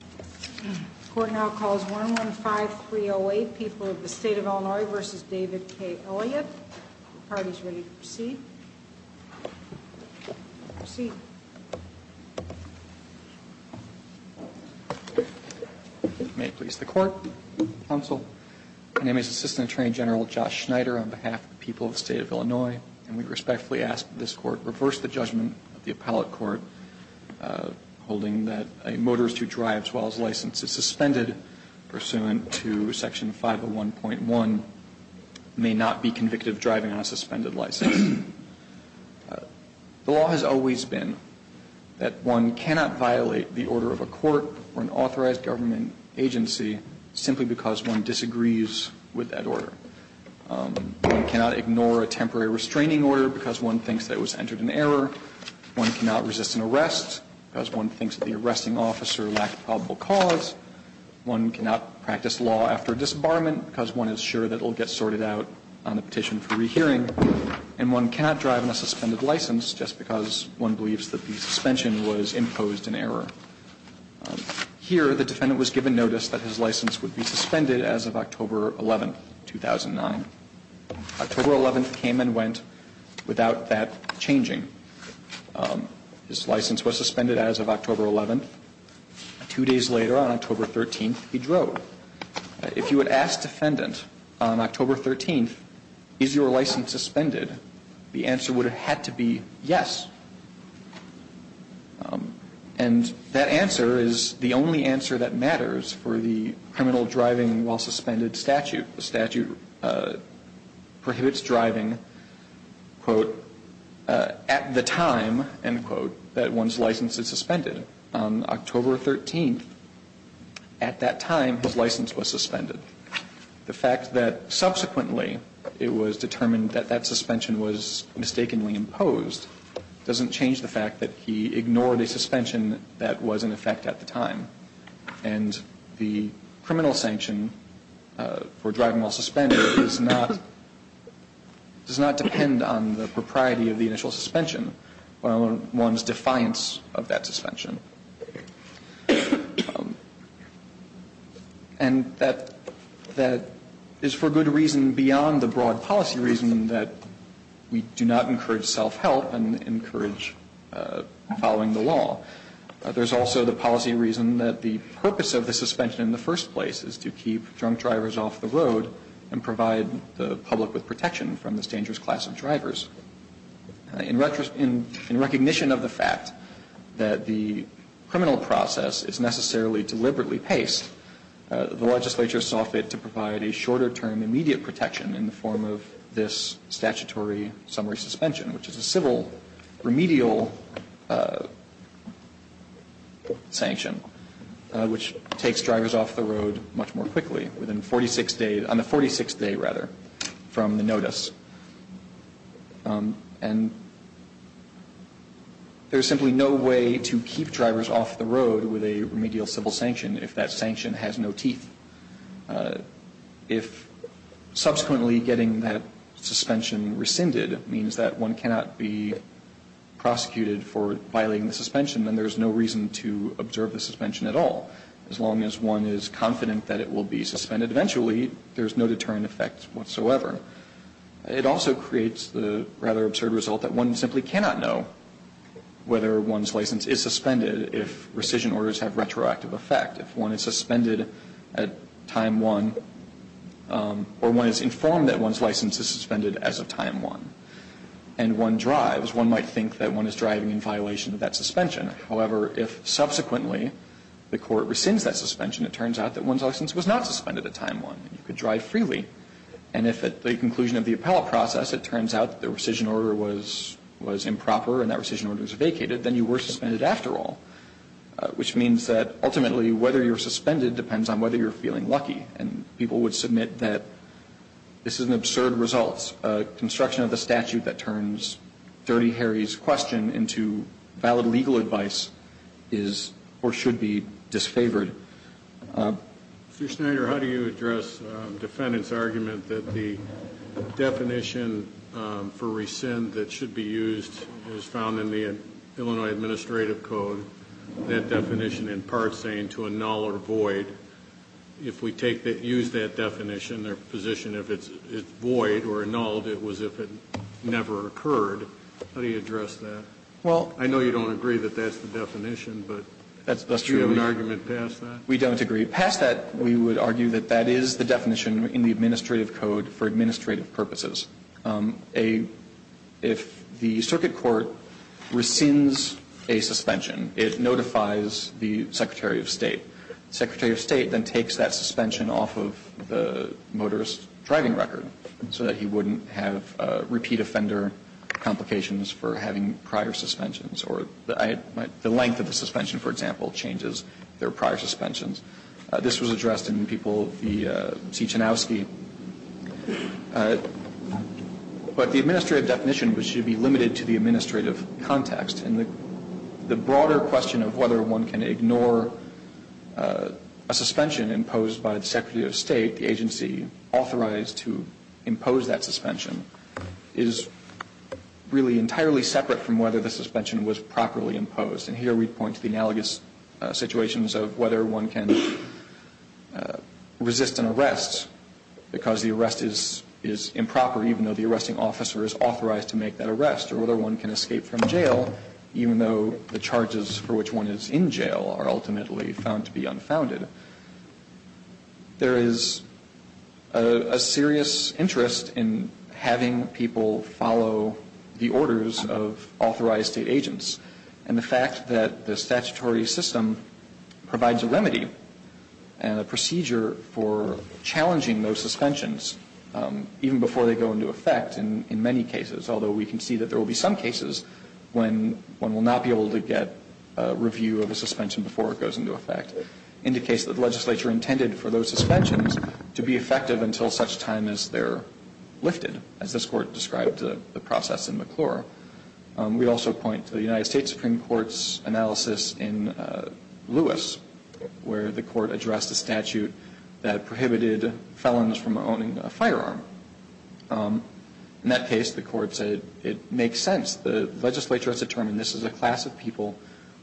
The Court now calls 115308, People of the State of Illinois v. David K. Elliott. The party is ready to proceed. Proceed. May it please the Court, Counsel. My name is Assistant Attorney General Josh Schneider on behalf of the people of the State of Illinois, and we respectfully ask that this Court reverse the judgment of the appellate court holding that a motorist who drives while his license is suspended pursuant to Section 501.1 may not be convicted of driving on a suspended license. The law has always been that one cannot violate the order of a court or an authorized government agency simply because one disagrees with that order. One cannot ignore a temporary restraining order because one thinks that it was entered in error. One cannot resist an arrest because one thinks that the arresting officer lacked a probable cause. One cannot practice law after disembarment because one is sure that it will get sorted out on a petition for rehearing. And one cannot drive on a suspended license just because one believes that the suspension was imposed in error. Here, the defendant was given notice that his license would be suspended as of October 11, 2009. October 11 came and went without that changing. His license was suspended as of October 11. Two days later, on October 13, he drove. If you had asked the defendant on October 13, is your license suspended, the answer would have had to be yes. And that answer is the only answer that matters for the criminal driving while suspended statute. The statute prohibits driving, quote, at the time, end quote, that one's license is suspended. On October 13, at that time, his license was suspended. The fact that subsequently it was determined that that suspension was mistakenly imposed doesn't change the fact that he ignored a suspension that was in effect at the time. And the criminal sanction for driving while suspended is not, does not depend on the propriety of the initial suspension or one's defiance of that suspension. And that is for good reason beyond the broad policy reason that we do not encourage self-help and encourage following the law. There's also the policy reason that the purpose of the suspension in the first place is to keep drunk drivers off the road and provide the public with protection from this dangerous class of drivers. In recognition of the fact that the criminal process is necessarily deliberately paced, the legislature sought to provide a shorter term immediate protection in the form of this statutory summary suspension, which is a civil remedial sanction, which takes drivers off the road much more quickly within 46 days, on the 46th day, rather, from the notice. And there's simply no way to keep drivers off the road with a remedial civil sanction if that sanction has no teeth. If subsequently getting that suspension rescinded means that one cannot be prosecuted for violating the suspension, then there's no reason to observe the suspension at all. As long as one is confident that it will be suspended eventually, there's no deterrent effect whatsoever. It also creates the rather absurd result that one simply cannot know whether one's license is suspended if rescission orders have retroactive effect. If one is suspended at time 1 or one is informed that one's license is suspended as of time 1 and one drives, one might think that one is driving in violation of that suspension. However, if subsequently the court rescinds that suspension, it turns out that one's license was not suspended at time 1. You could drive freely. And if at the conclusion of the appellate process it turns out that the rescission order was improper and that rescission order was vacated, then you were suspended after all. Which means that ultimately whether you're suspended depends on whether you're feeling lucky. And people would submit that this is an absurd result. A construction of the statute that turns Dirty Harry's question into valid legal advice is or should be disfavored. Mr. Schneider, how do you address defendant's argument that the definition for rescind that should be used is found in the Illinois Administrative Code, that definition in part saying to annul or void, if we take that, use that definition or position if it's void or annulled, it was if it never occurred. How do you address that? I know you don't agree that that's the definition, but do you have an argument past that? We don't agree. Past that, we would argue that that is the definition in the Administrative Code for administrative purposes. If the circuit court rescinds a suspension, it notifies the Secretary of State. The Secretary of State then takes that suspension off of the motorist's driving record so that he wouldn't have repeat offender complications for having prior suspensions or the length of the suspension, for example, changes their prior suspensions. This was addressed in the people of the T. Chanowsky. But the administrative definition should be limited to the administrative context. And the broader question of whether one can ignore a suspension imposed by the Secretary of State, the agency authorized to impose that suspension, is really entirely separate from whether the suspension was properly imposed. And here we point to the analogous situations of whether one can resist an arrest because the arrest is improper, even though the arresting officer is authorized to make that arrest, or whether one can escape from jail, even though the charges for which one is in jail are ultimately found to be unfounded. There is a serious interest in having people follow the orders of authorized State officers. The fact that the statutory system provides a remedy and a procedure for challenging those suspensions, even before they go into effect in many cases, although we can see that there will be some cases when one will not be able to get a review of a suspension before it goes into effect, indicates that the legislature intended for those suspensions to be effective until such time as they're lifted, as this Court described the process in McClure. We also point to the United States Supreme Court's analysis in Lewis, where the Court addressed a statute that prohibited felons from owning a firearm. In that case, the Court said it makes sense. The legislature has determined this is a class of people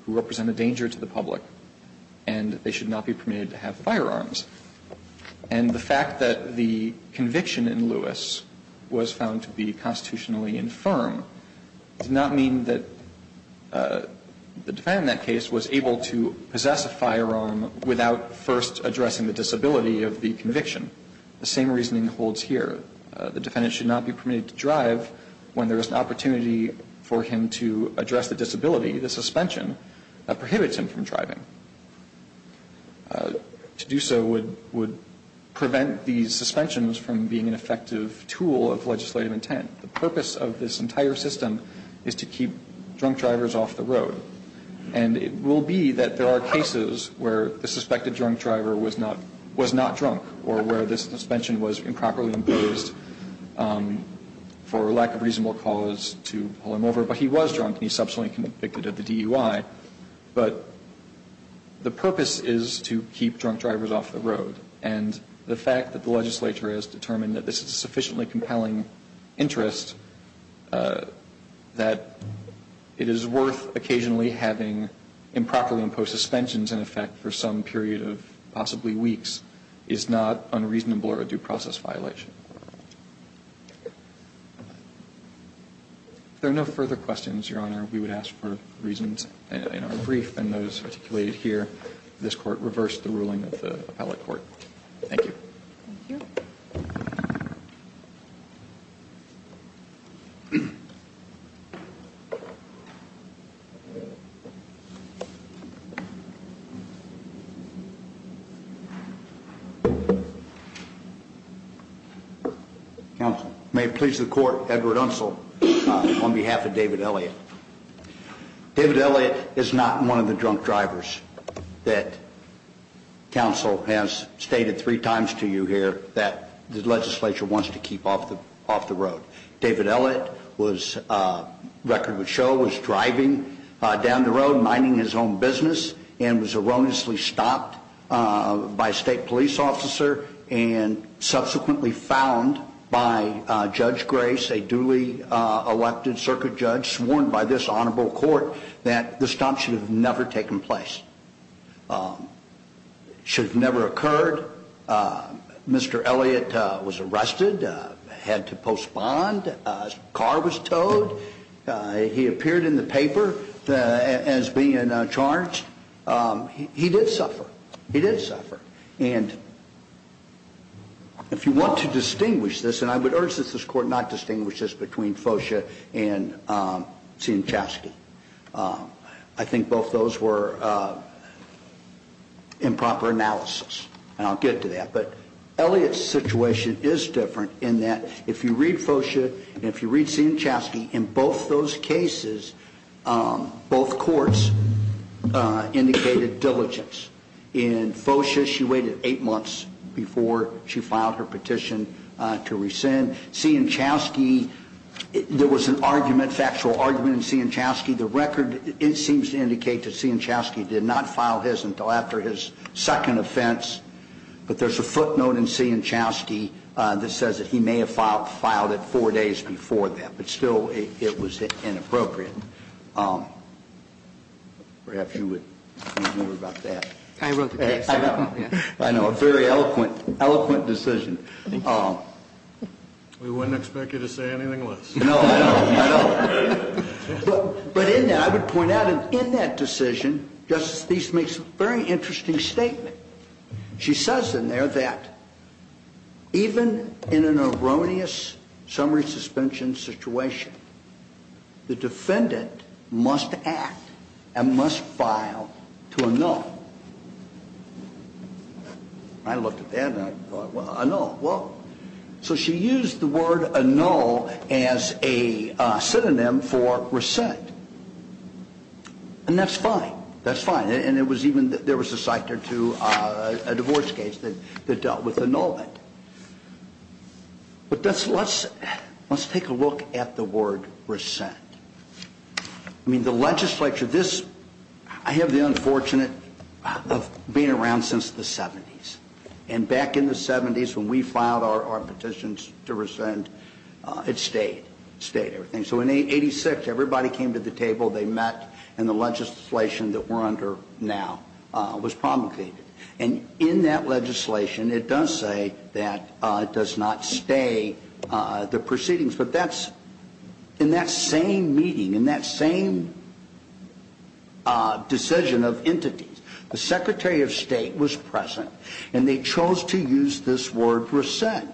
who represent a danger to the public, and they should not be permitted to have firearms. And the fact that the conviction in Lewis was found to be constitutionally infirm does not mean that the defendant in that case was able to possess a firearm without first addressing the disability of the conviction. The same reasoning holds here. The defendant should not be permitted to drive when there is an opportunity for him to address the disability, the suspension, that prohibits him from driving. To do so would prevent these suspensions from being an effective tool of legislative intent. The purpose of this entire system is to keep drunk drivers off the road. And it will be that there are cases where the suspected drunk driver was not drunk or where the suspension was improperly imposed for lack of reasonable cause to pull him over, but he was drunk and he subsequently convicted at the DUI. But the purpose is to keep drunk drivers off the road. And the fact that the legislature has determined that this is a sufficiently compelling interest, that it is worth occasionally having improperly imposed suspensions in effect for some period of possibly weeks, is not unreasonable or a due process violation. If there are no further questions, Your Honor, we would ask for reasons in our brief and those articulated here. This Court reversed the ruling of the appellate court. Thank you. Thank you. May it please the Court, Edward Unsel on behalf of David Elliott. David Elliott is not one of the drunk drivers that counsel has stated three times to you here that the legislature wants to keep off the road. David Elliott was, record would show, was driving down the road minding his own business and was erroneously stopped by a state police officer and subsequently found by Judge Grace, a duly elected circuit judge, sworn by this honorable court, that the stop should have never taken place. It should have never occurred. Mr. Elliott was arrested, had to postpone, his car was towed. He appeared in the paper as being charged. He did suffer. He did suffer. And if you want to distinguish this, and I would urge that this Court not distinguish this between Fosha and Sienczewski, I think both those were improper analysis. And I'll get to that. But Elliott's situation is different in that if you read Fosha and if you read Sienczewski, in both those cases, both courts indicated diligence. In Fosha, she waited eight months before she filed her petition to rescind. Sienczewski, there was an argument, factual argument in Sienczewski. The record, it seems to indicate that Sienczewski did not file his until after his second offense. But there's a footnote in Sienczewski that says that he may have filed it four days before that. But still, it was inappropriate. Perhaps you would want to hear about that. I wrote the case. I know. I know. A very eloquent decision. We wouldn't expect you to say anything less. No, I know. I know. But in that, I would point out in that decision, Justice Steeves makes a very interesting statement. She says in there that even in an erroneous summary suspension situation, the defendant must act and must file to annul. I looked at that and I thought, well, annul. Well, so she used the word annul as a synonym for rescind. And that's fine. That's fine. And it was even, there was a cite there too, a divorce case that dealt with annulment. But let's take a look at the word rescind. I mean, the legislature, this, I have the unfortunate of being around since the 70s. And back in the 70s when we filed our petitions to rescind, it stayed. It stayed, everything. So in 86, everybody came to the table, they met, and the legislation that we're under now was promulgated. And in that legislation, it does say that it does not stay the proceedings. But that's, in that same meeting, in that same decision of entities, the Secretary of State was present. And they chose to use this word rescind.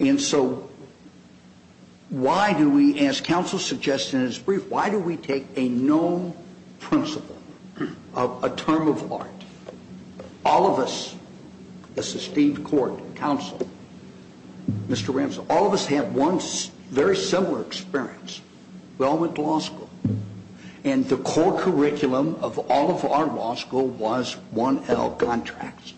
And so why do we, as counsel suggested in his brief, why do we take a known principle of a term of art? All of us, this is Steve Court, counsel, Mr. Ramsey, all of us have one very similar experience. We all went to law school. And the core curriculum of all of our law school was 1L contracts.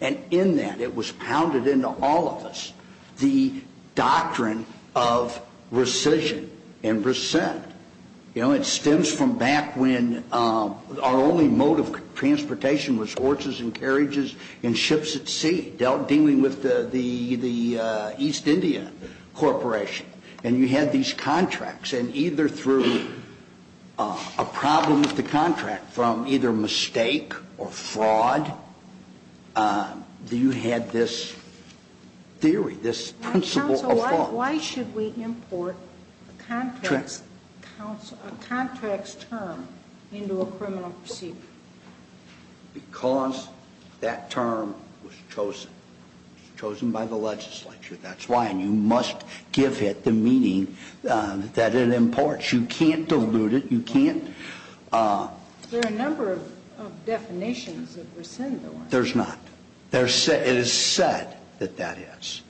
And in that, it was pounded into all of us the doctrine of rescission and rescind. You know, it stems from back when our only mode of transportation was horses and carriages and ships at sea. Dealing with the East India Corporation. And you had these contracts. And either through a problem with the contract, from either mistake or fraud, you had this theory, this principle of law. Counsel, why should we import a contracts term into a criminal proceeding? Because that term was chosen. It was chosen by the legislature, that's why. And you must give it the meaning that it imports. You can't dilute it. You can't. There are a number of definitions of rescind, though, aren't there? There's not. It is said that that is.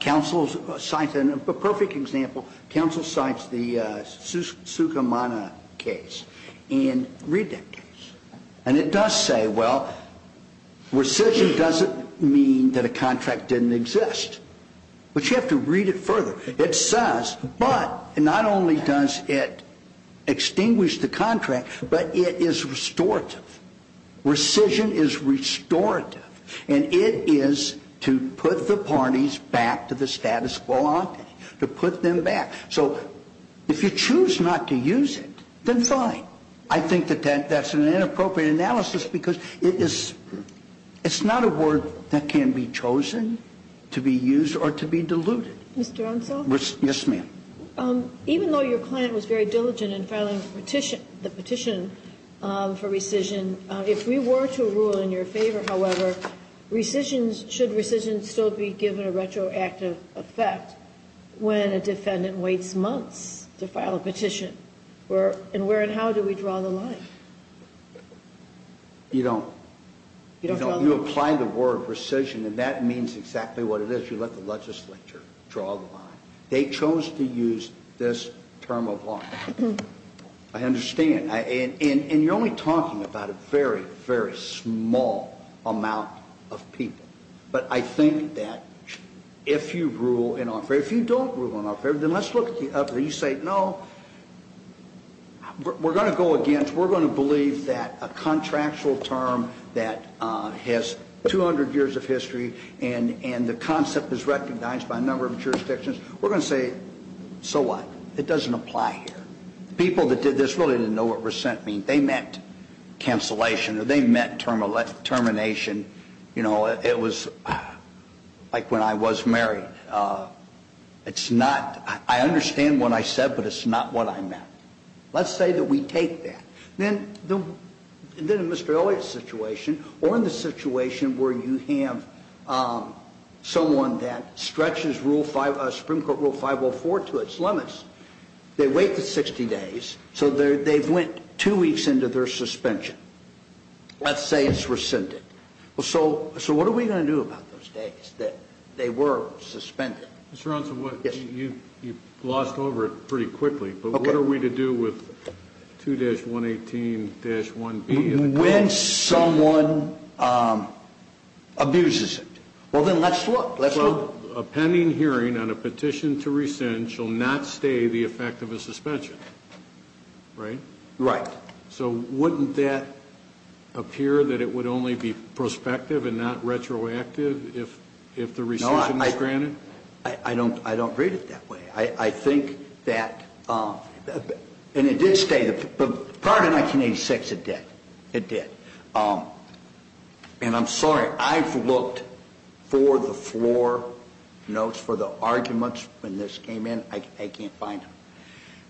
Counsel cites a perfect example. Counsel cites the Sukumana case in Redactors. And it does say, well, rescind doesn't mean that a contract didn't exist. But you have to read it further. It says, but not only does it extinguish the contract, but it is restorative. Rescind is restorative. And it is to put the parties back to the status quo, to put them back. So if you choose not to use it, then fine. I think that that's an inappropriate analysis because it's not a word that can be chosen to be used or to be diluted. Mr. Unsel? Yes, ma'am. Even though your client was very diligent in filing the petition for rescind, if we were to rule in your favor, however, should rescind still be given a retroactive effect when a defendant waits months to file a petition? And where and how do we draw the line? You don't. You don't draw the line. You apply the word rescind, and that means exactly what it is. You let the legislature draw the line. They chose to use this term of law. I understand. And you're only talking about a very, very small amount of people. But I think that if you rule in our favor, if you don't rule in our favor, then let's look at the other. You say, no, we're going to go against. We're going to believe that a contractual term that has 200 years of history and the concept is recognized by a number of jurisdictions, we're going to say, so what? It doesn't apply here. People that did this really didn't know what rescind meant. They meant cancellation or they meant termination. It was like when I was married. It's not ñ I understand what I said, but it's not what I meant. Let's say that we take that. Then in Mr. Elliott's situation or in the situation where you have someone that stretches Supreme Court Rule 504 to its limits, they wait for 60 days, so they've went two weeks into their suspension. Let's say it's rescinded. So what are we going to do about those days that they were suspended? Mr. Aronson, you glossed over it pretty quickly, but what are we to do with 2-118-1B? When someone abuses it. Well, then let's look. A pending hearing on a petition to rescind shall not stay the effect of a suspension, right? Right. So wouldn't that appear that it would only be prospective and not retroactive if the rescission is granted? No, I don't read it that way. I think that ñ and it did stay. Prior to 1986, it did. It did. And I'm sorry, I've looked for the floor notes for the arguments when this came in. I can't find them.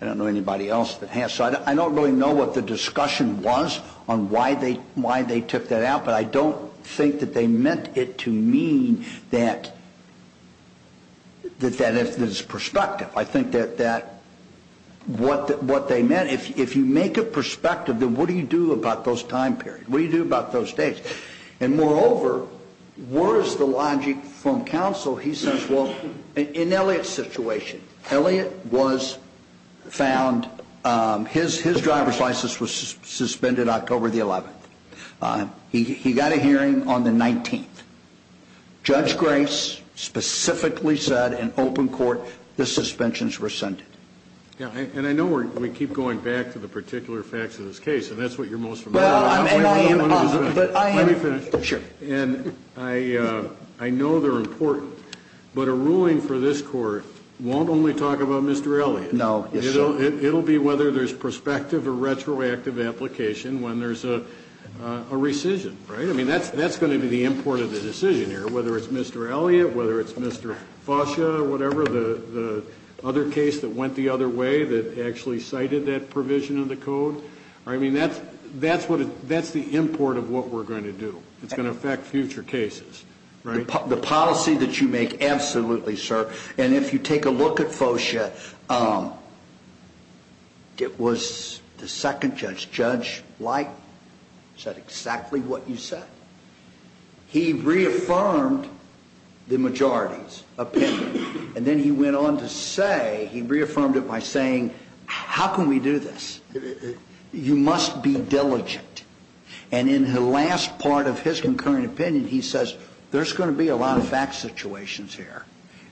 I don't know anybody else that has. So I don't really know what the discussion was on why they took that out, but I don't think that they meant it to mean that it's prospective. I think that what they meant, if you make it prospective, then what do you do about those time periods? What do you do about those days? And moreover, where is the logic from counsel? So he says, well, in Elliot's situation, Elliot was found, his driver's license was suspended October the 11th. He got a hearing on the 19th. Judge Grace specifically said in open court the suspensions were rescinded. And I know we keep going back to the particular facts of this case, and that's what you're most familiar with. Let me finish. Sure. And I know they're important, but a ruling for this court won't only talk about Mr. Elliot. No. It will be whether there's prospective or retroactive application when there's a rescission, right? I mean, that's going to be the import of the decision here, whether it's Mr. Elliot, whether it's Mr. Fosha, whatever the other case that went the other way that actually cited that provision of the code. I mean, that's the import of what we're going to do. It's going to affect future cases, right? The policy that you make, absolutely, sir. And if you take a look at Fosha, it was the second judge, Judge Light, said exactly what you said. He reaffirmed the majority's opinion, and then he went on to say, he reaffirmed it by saying, how can we do this? You must be diligent. And in the last part of his concurrent opinion, he says, there's going to be a lot of fact situations here,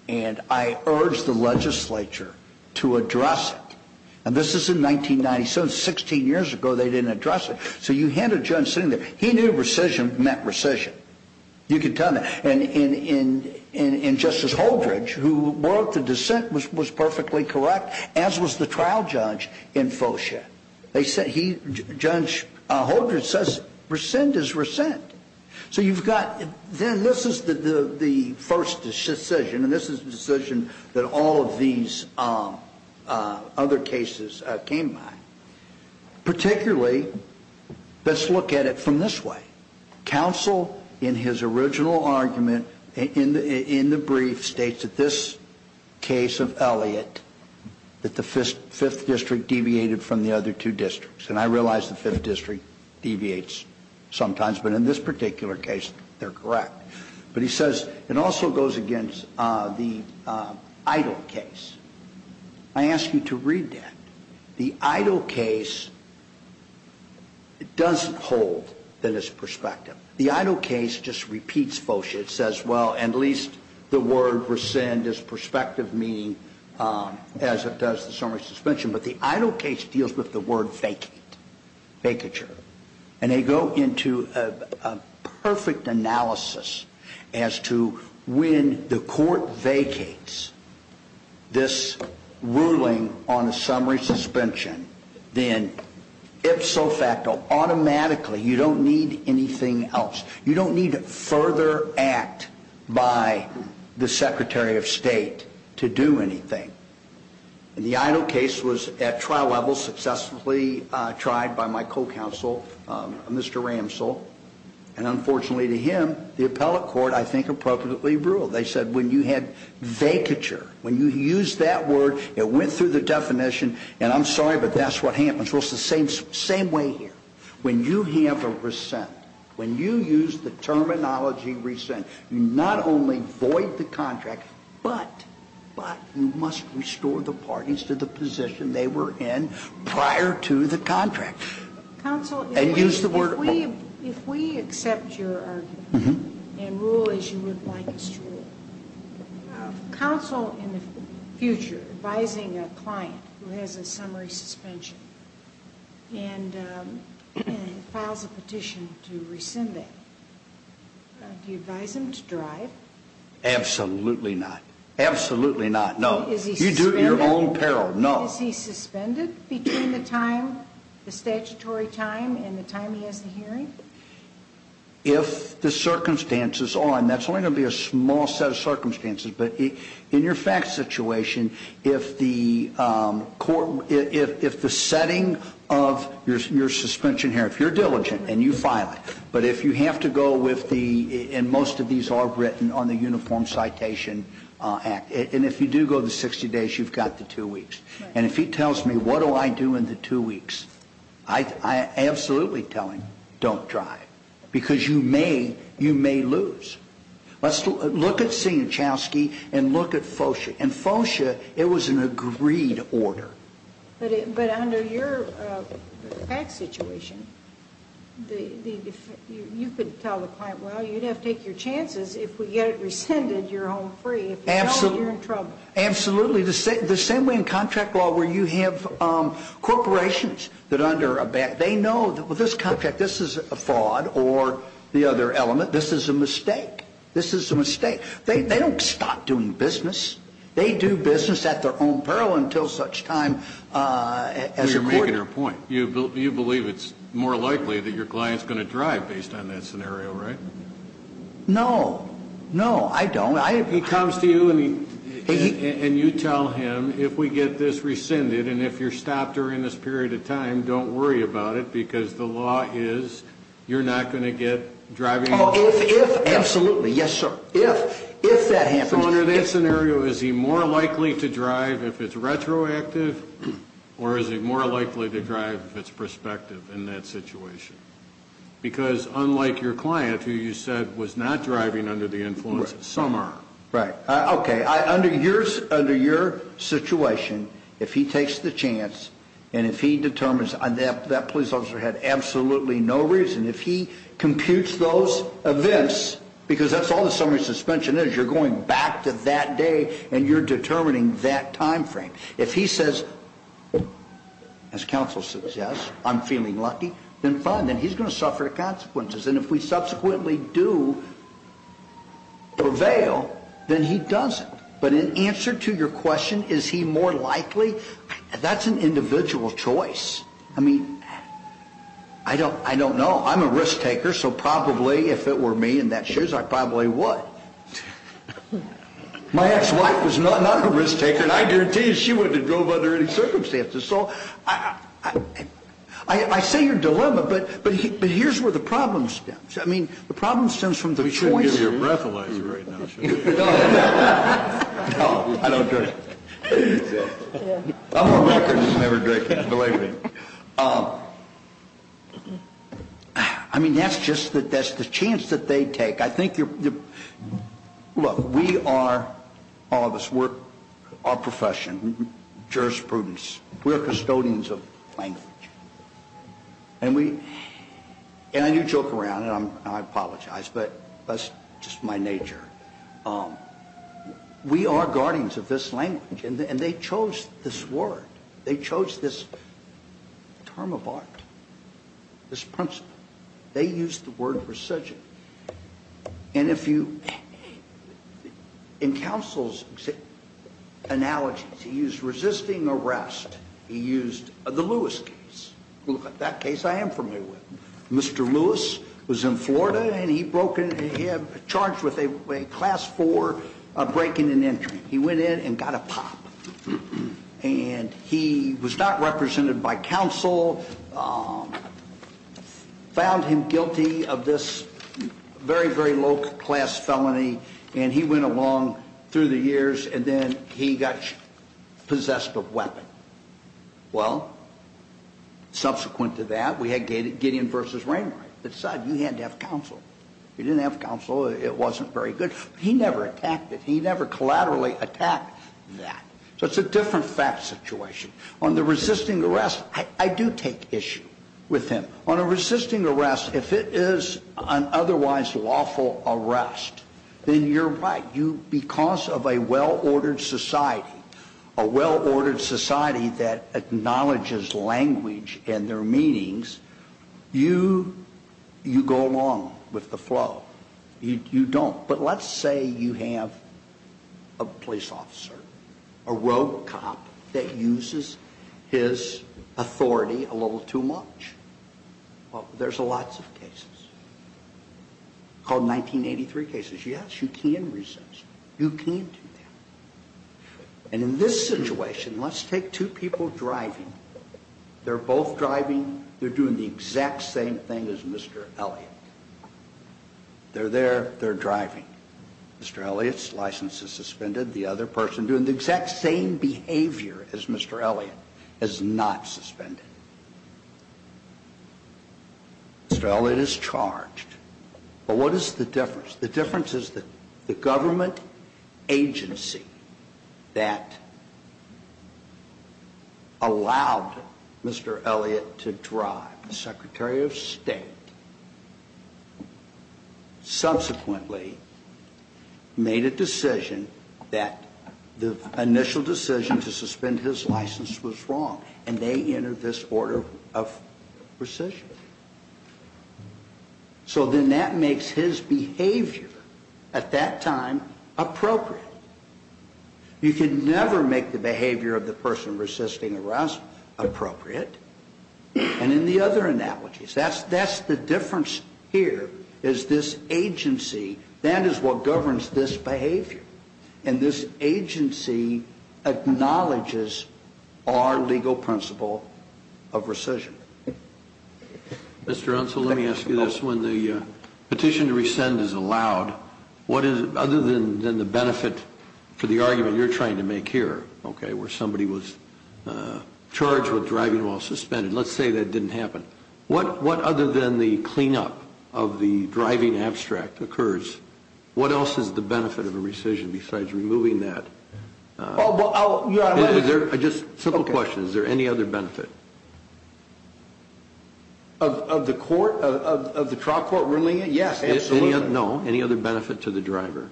and I urge the legislature to address it. And this is in 1997. Sixteen years ago, they didn't address it. So you had a judge sitting there. He knew rescission meant rescission. You can tell me. And Justice Holdridge, who wrote the dissent, was perfectly correct, as was the trial judge in Fosha. Judge Holdridge says, rescind is rescind. So you've got, then this is the first decision, and this is the decision that all of these other cases came by. Particularly, let's look at it from this way. Counsel, in his original argument, in the brief, states that this case of Elliott, that the Fifth District deviated from the other two districts. And I realize the Fifth District deviates sometimes, but in this particular case, they're correct. But he says, it also goes against the Idle case. I ask you to read that. The Idle case doesn't hold that it's prospective. The Idle case just repeats Fosha. It says, well, at least the word rescind is prospective, meaning as it does the summary suspension. But the Idle case deals with the word vacate, vacature. And they go into a perfect analysis as to when the court vacates this ruling on a summary suspension, then ipso facto, automatically, you don't need anything else. You don't need further act by the Secretary of State to do anything. And the Idle case was, at trial level, successfully tried by my co-counsel, Mr. Ramsell. And unfortunately to him, the appellate court, I think, appropriately ruled. They said when you had vacature, when you used that word, it went through the definition. And I'm sorry, but that's what happens. Well, it's the same way here. When you have a rescind, when you use the terminology rescind, you not only void the contract, but you must restore the parties to the position they were in prior to the contract. Counsel, if we accept your argument and rule as you would like us to rule, counsel in the future advising a client who has a summary suspension and files a petition to rescind that, do you advise him to drive? Absolutely not. Absolutely not. No. You do it in your own peril. No. Is he suspended between the time, the statutory time and the time he has the hearing? If the circumstances are, and that's only going to be a small set of circumstances, but in your fact situation, if the setting of your suspension here, if you're diligent and you file it, but if you have to go with the, and most of these are written on the Uniform Citation Act, and if you do go the 60 days, you've got the two weeks. And if he tells me what do I do in the two weeks, I absolutely tell him don't drive because you may lose. Let's look at Sienczowski and look at FOSHA. In FOSHA, it was an agreed order. But under your fact situation, you could tell the client, well, you'd have to take your chances. If we get it rescinded, you're home free. If you don't, you're in trouble. Absolutely. The same way in contract law where you have corporations that under a, they know that with this contract, this is a fraud or the other element, this is a mistake. This is a mistake. They don't stop doing business. They do business at their own peril until such time as a court. Well, you're making a point. You believe it's more likely that your client's going to drive based on that scenario, right? No. No, I don't. He comes to you and you tell him if we get this rescinded and if you're stopped during this period of time, don't worry about it because the law is you're not going to get driving. Oh, if, if, absolutely. Yes, sir. If, if that happens. So under that scenario, is he more likely to drive if it's retroactive or is it more likely to drive if it's prospective in that situation? Because unlike your client who you said was not driving under the influence, some are. Right. Okay. Under your situation, if he takes the chance and if he determines that police officer had absolutely no reason, if he computes those events because that's all the summary suspension is, you're going back to that day and you're determining that time frame. If he says, as counsel suggests, I'm feeling lucky, then fine. Then he's going to suffer the consequences. And if we subsequently do prevail, then he doesn't. But in answer to your question, is he more likely, that's an individual choice. I mean, I don't, I don't know. I'm a risk taker, so probably if it were me in that shoes, I probably would. My ex-wife was not a risk taker and I guarantee you she wouldn't have drove under any circumstances. So I say you're dilemma, but here's where the problem stems. I mean, the problem stems from the choice. We shouldn't give you a breathalyzer right now, should we? No, I don't drink. I'm on record as never drinking, believe me. I mean, that's just, that's the chance that they take. I think you're, look, we are, all of us, we're a profession, jurisprudence. We're custodians of language. And we, and you joke around, and I apologize, but that's just my nature. We are guardians of this language, and they chose this word. They chose this term of art, this principle. They used the word resign. And if you, in counsel's analogies, he used resisting arrest. He used the Lewis case. That case I am familiar with. Mr. Lewis was in Florida and he broke in, he had charged with a class four breaking and entering. He went in and got a pop. And he was not represented by counsel, found him guilty of this very, very low class felony, and he went along through the years, and then he got possessed of weapon. Well, subsequent to that, we had Gideon v. Rainwright that said you had to have counsel. You didn't have counsel, it wasn't very good. He never attacked it. He never collaterally attacked that. So it's a different fact situation. On the resisting arrest, I do take issue with him. On a resisting arrest, if it is an otherwise lawful arrest, then you're right. Because of a well-ordered society, a well-ordered society that acknowledges language and their meanings, you go along with the flow. You don't. But let's say you have a police officer, a rogue cop that uses his authority a little too much. Well, there's lots of cases. Called 1983 cases. Yes, you can resist. You can do that. And in this situation, let's take two people driving. They're both driving. They're doing the exact same thing as Mr. Elliott. They're there. They're driving. Mr. Elliott's license is suspended. The other person doing the exact same behavior as Mr. Elliott is not suspended. Mr. Elliott is charged. But what is the difference? The difference is that the government agency that allowed Mr. Elliott to drive, the Secretary of State, subsequently made a decision that the initial decision to suspend his license was wrong, and they entered this order of rescission. So then that makes his behavior at that time appropriate. You can never make the behavior of the person resisting arrest appropriate. And in the other analogies, that's the difference here is this agency, that is what governs this behavior. And this agency acknowledges our legal principle of rescission. Mr. Unsel, let me ask you this. When the petition to rescind is allowed, other than the benefit for the argument you're trying to make here, where somebody was charged with driving while suspended, let's say that didn't happen, what other than the cleanup of the driving abstract occurs? What else is the benefit of a rescission besides removing that? Just a simple question. Is there any other benefit? Of the court, of the trial court ruling it? Yes, absolutely. No, any other benefit to the driver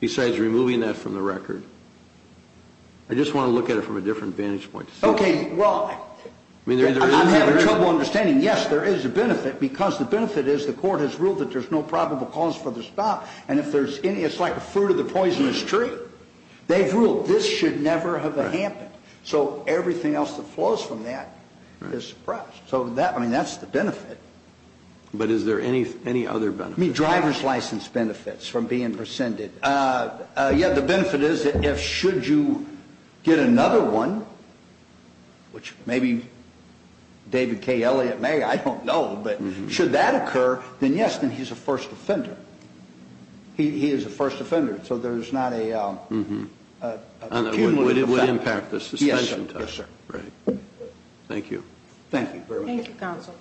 besides removing that from the record? I just want to look at it from a different vantage point. Okay, well, I'm having trouble understanding. Yes, there is a benefit because the benefit is the court has ruled that there's no probable cause for the stop, and it's like a fruit of the poisonous tree. They've ruled this should never have happened. So everything else that flows from that is suppressed. So, I mean, that's the benefit. But is there any other benefit? I mean, driver's license benefits from being rescinded. Yeah, the benefit is if should you get another one, which maybe David K. Elliot may, I don't know, but should that occur, then yes, then he's a first offender. He is a first offender. So there's not a cumulative effect. And it would impact the suspension time. Yes, sir. Right. Thank you. Thank you very much. Thank you, counsel.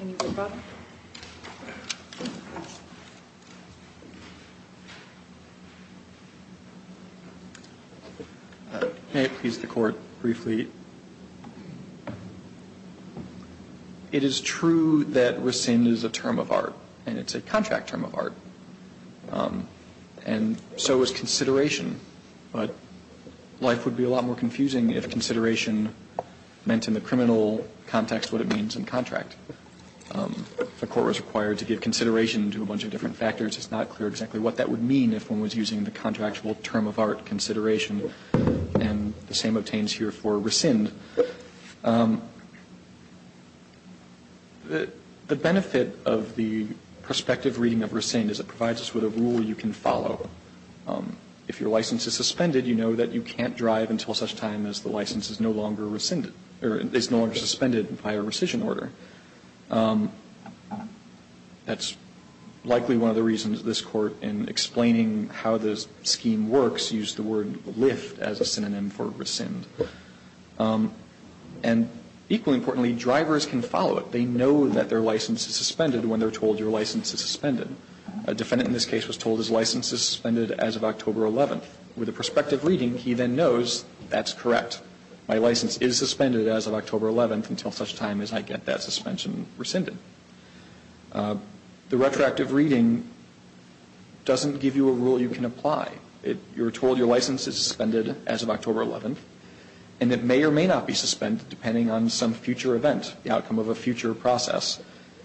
Any other questions? May it please the Court briefly. It is true that rescind is a term of art, and it's a contract term of art. And so is consideration. But life would be a lot more confusing if consideration meant in the criminal context what it means in contract. If a court was required to give consideration to a bunch of different factors, it's not clear exactly what that would mean if one was using the contractual term of art consideration. And the same obtains here for rescind. The benefit of the prospective reading of rescind is it provides us with a rule you can follow. If your license is suspended, you know that you can't drive until such time as the license is no longer rescinded or is no longer suspended by a rescission order. That's likely one of the reasons this Court, in explaining how this scheme works, used the word lift as a synonym for rescind. And equally importantly, drivers can follow it. They know that their license is suspended when they're told your license is suspended. A defendant in this case was told his license is suspended as of October 11th. With a prospective reading, he then knows that's correct. My license is suspended as of October 11th until such time as I get that suspension rescinded. The retroactive reading doesn't give you a rule you can apply. You're told your license is suspended as of October 11th. And it may or may not be suspended depending on some future event, the outcome of a future process.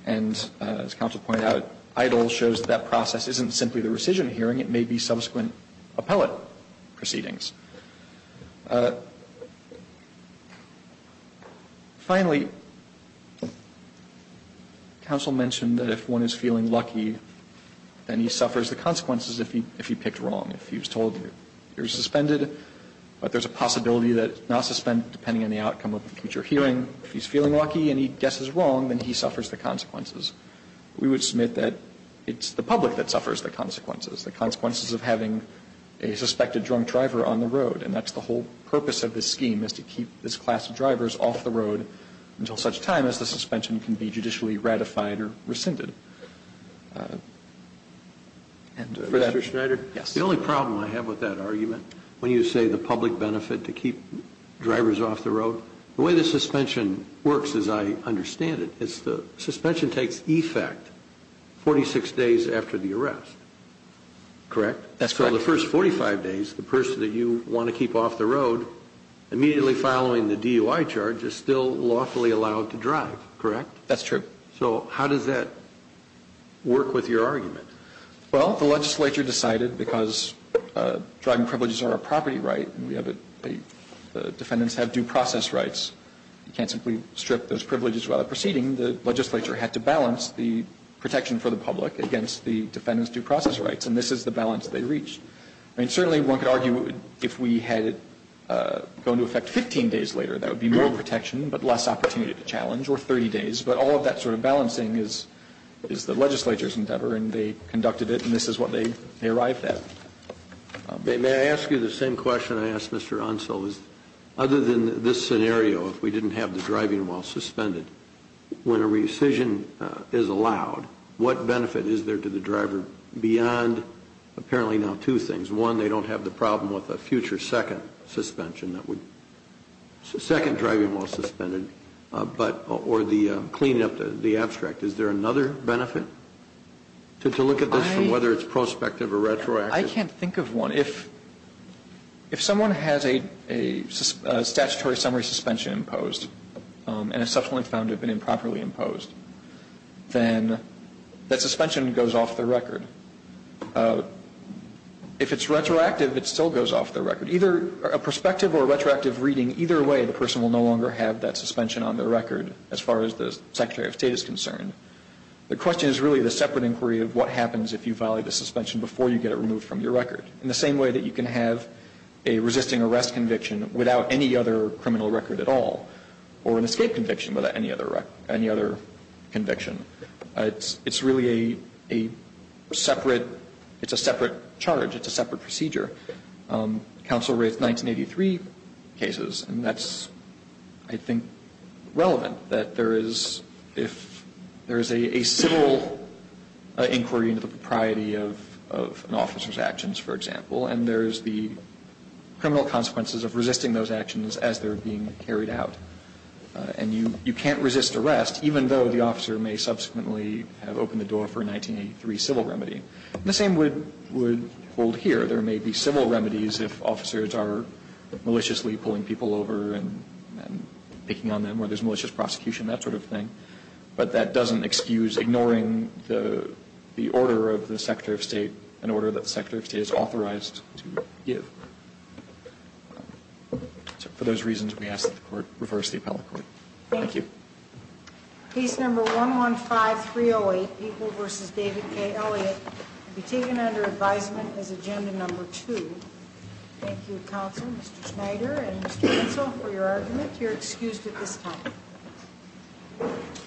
And as counsel pointed out, EIDL shows that that process isn't simply the rescission hearing. It may be subsequent appellate proceedings. Finally, counsel mentioned that if one is feeling lucky, then he suffers the consequences if he picked wrong. If he was told you're suspended, but there's a possibility that it's not suspended depending on the outcome of the future hearing. If he's feeling lucky and he guesses wrong, then he suffers the consequences. We would submit that it's the public that suffers the consequences, the consequences of having a suspected drunk driver on the road. And that's the whole purpose of this scheme is to keep this class of drivers off the road until such time as the suspension can be judicially ratified or rescinded. Mr. Schneider? Yes. The only problem I have with that argument, when you say the public benefit to keep drivers off the road, the way the suspension works as I understand it is the suspension takes effect 46 days after the arrest. Correct? That's correct. So the first 45 days, the person that you want to keep off the road immediately following the DUI charge is still lawfully allowed to drive. Correct? That's true. So how does that work with your argument? Well, the legislature decided because driving privileges are a property right, and the defendants have due process rights. You can't simply strip those privileges while they're proceeding. The legislature had to balance the protection for the public against the defendants' due process rights, and this is the balance they reached. I mean, certainly one could argue if we had it go into effect 15 days later, that would be more protection but less opportunity to challenge, or 30 days. But all of that sort of balancing is the legislature's endeavor, and they conducted it, and this is what they arrived at. May I ask you the same question I asked Mr. Onsel, is other than this scenario, if we didn't have the driving while suspended, when a rescission is allowed, what benefit is there to the driver beyond apparently now two things. One, they don't have the problem with a future second suspension that would second driving while suspended, or the cleaning up the abstract. Is there another benefit to look at this from whether it's prospective or retroactive? I can't think of one. If someone has a statutory summary suspension imposed and is subsequently found to have been improperly imposed, then that suspension goes off the record. If it's retroactive, it still goes off the record. A prospective or retroactive reading, either way, the person will no longer have that suspension on their record as far as the Secretary of State is concerned. The question is really the separate inquiry of what happens if you violate the suspension before you get it removed from your record, in the same way that you can have a resisting arrest conviction without any other criminal record at all, or an escape conviction without any other conviction. It's really a separate charge. It's a separate procedure. Counsel raised 1983 cases, and that's, I think, relevant, that there is a civil inquiry into the propriety of an officer's actions, for example, and there's the criminal consequences of resisting those actions as they're being carried out. And you can't resist arrest, even though the officer may subsequently have opened the door for a 1983 civil remedy. The same would hold here. There may be civil remedies if officers are maliciously pulling people over and picking on them, or there's malicious prosecution, that sort of thing, but that doesn't excuse ignoring the order of the Secretary of State, an order that the Secretary of State is authorized to give. So for those reasons, we ask that the Court reverse the appellate court. Thank you. Case number 115308, People v. David K. Elliott, will be taken under advisement as agenda number two. Thank you, Counsel, Mr. Schneider, and Mr. Renzel, for your argument. You're excused at this time.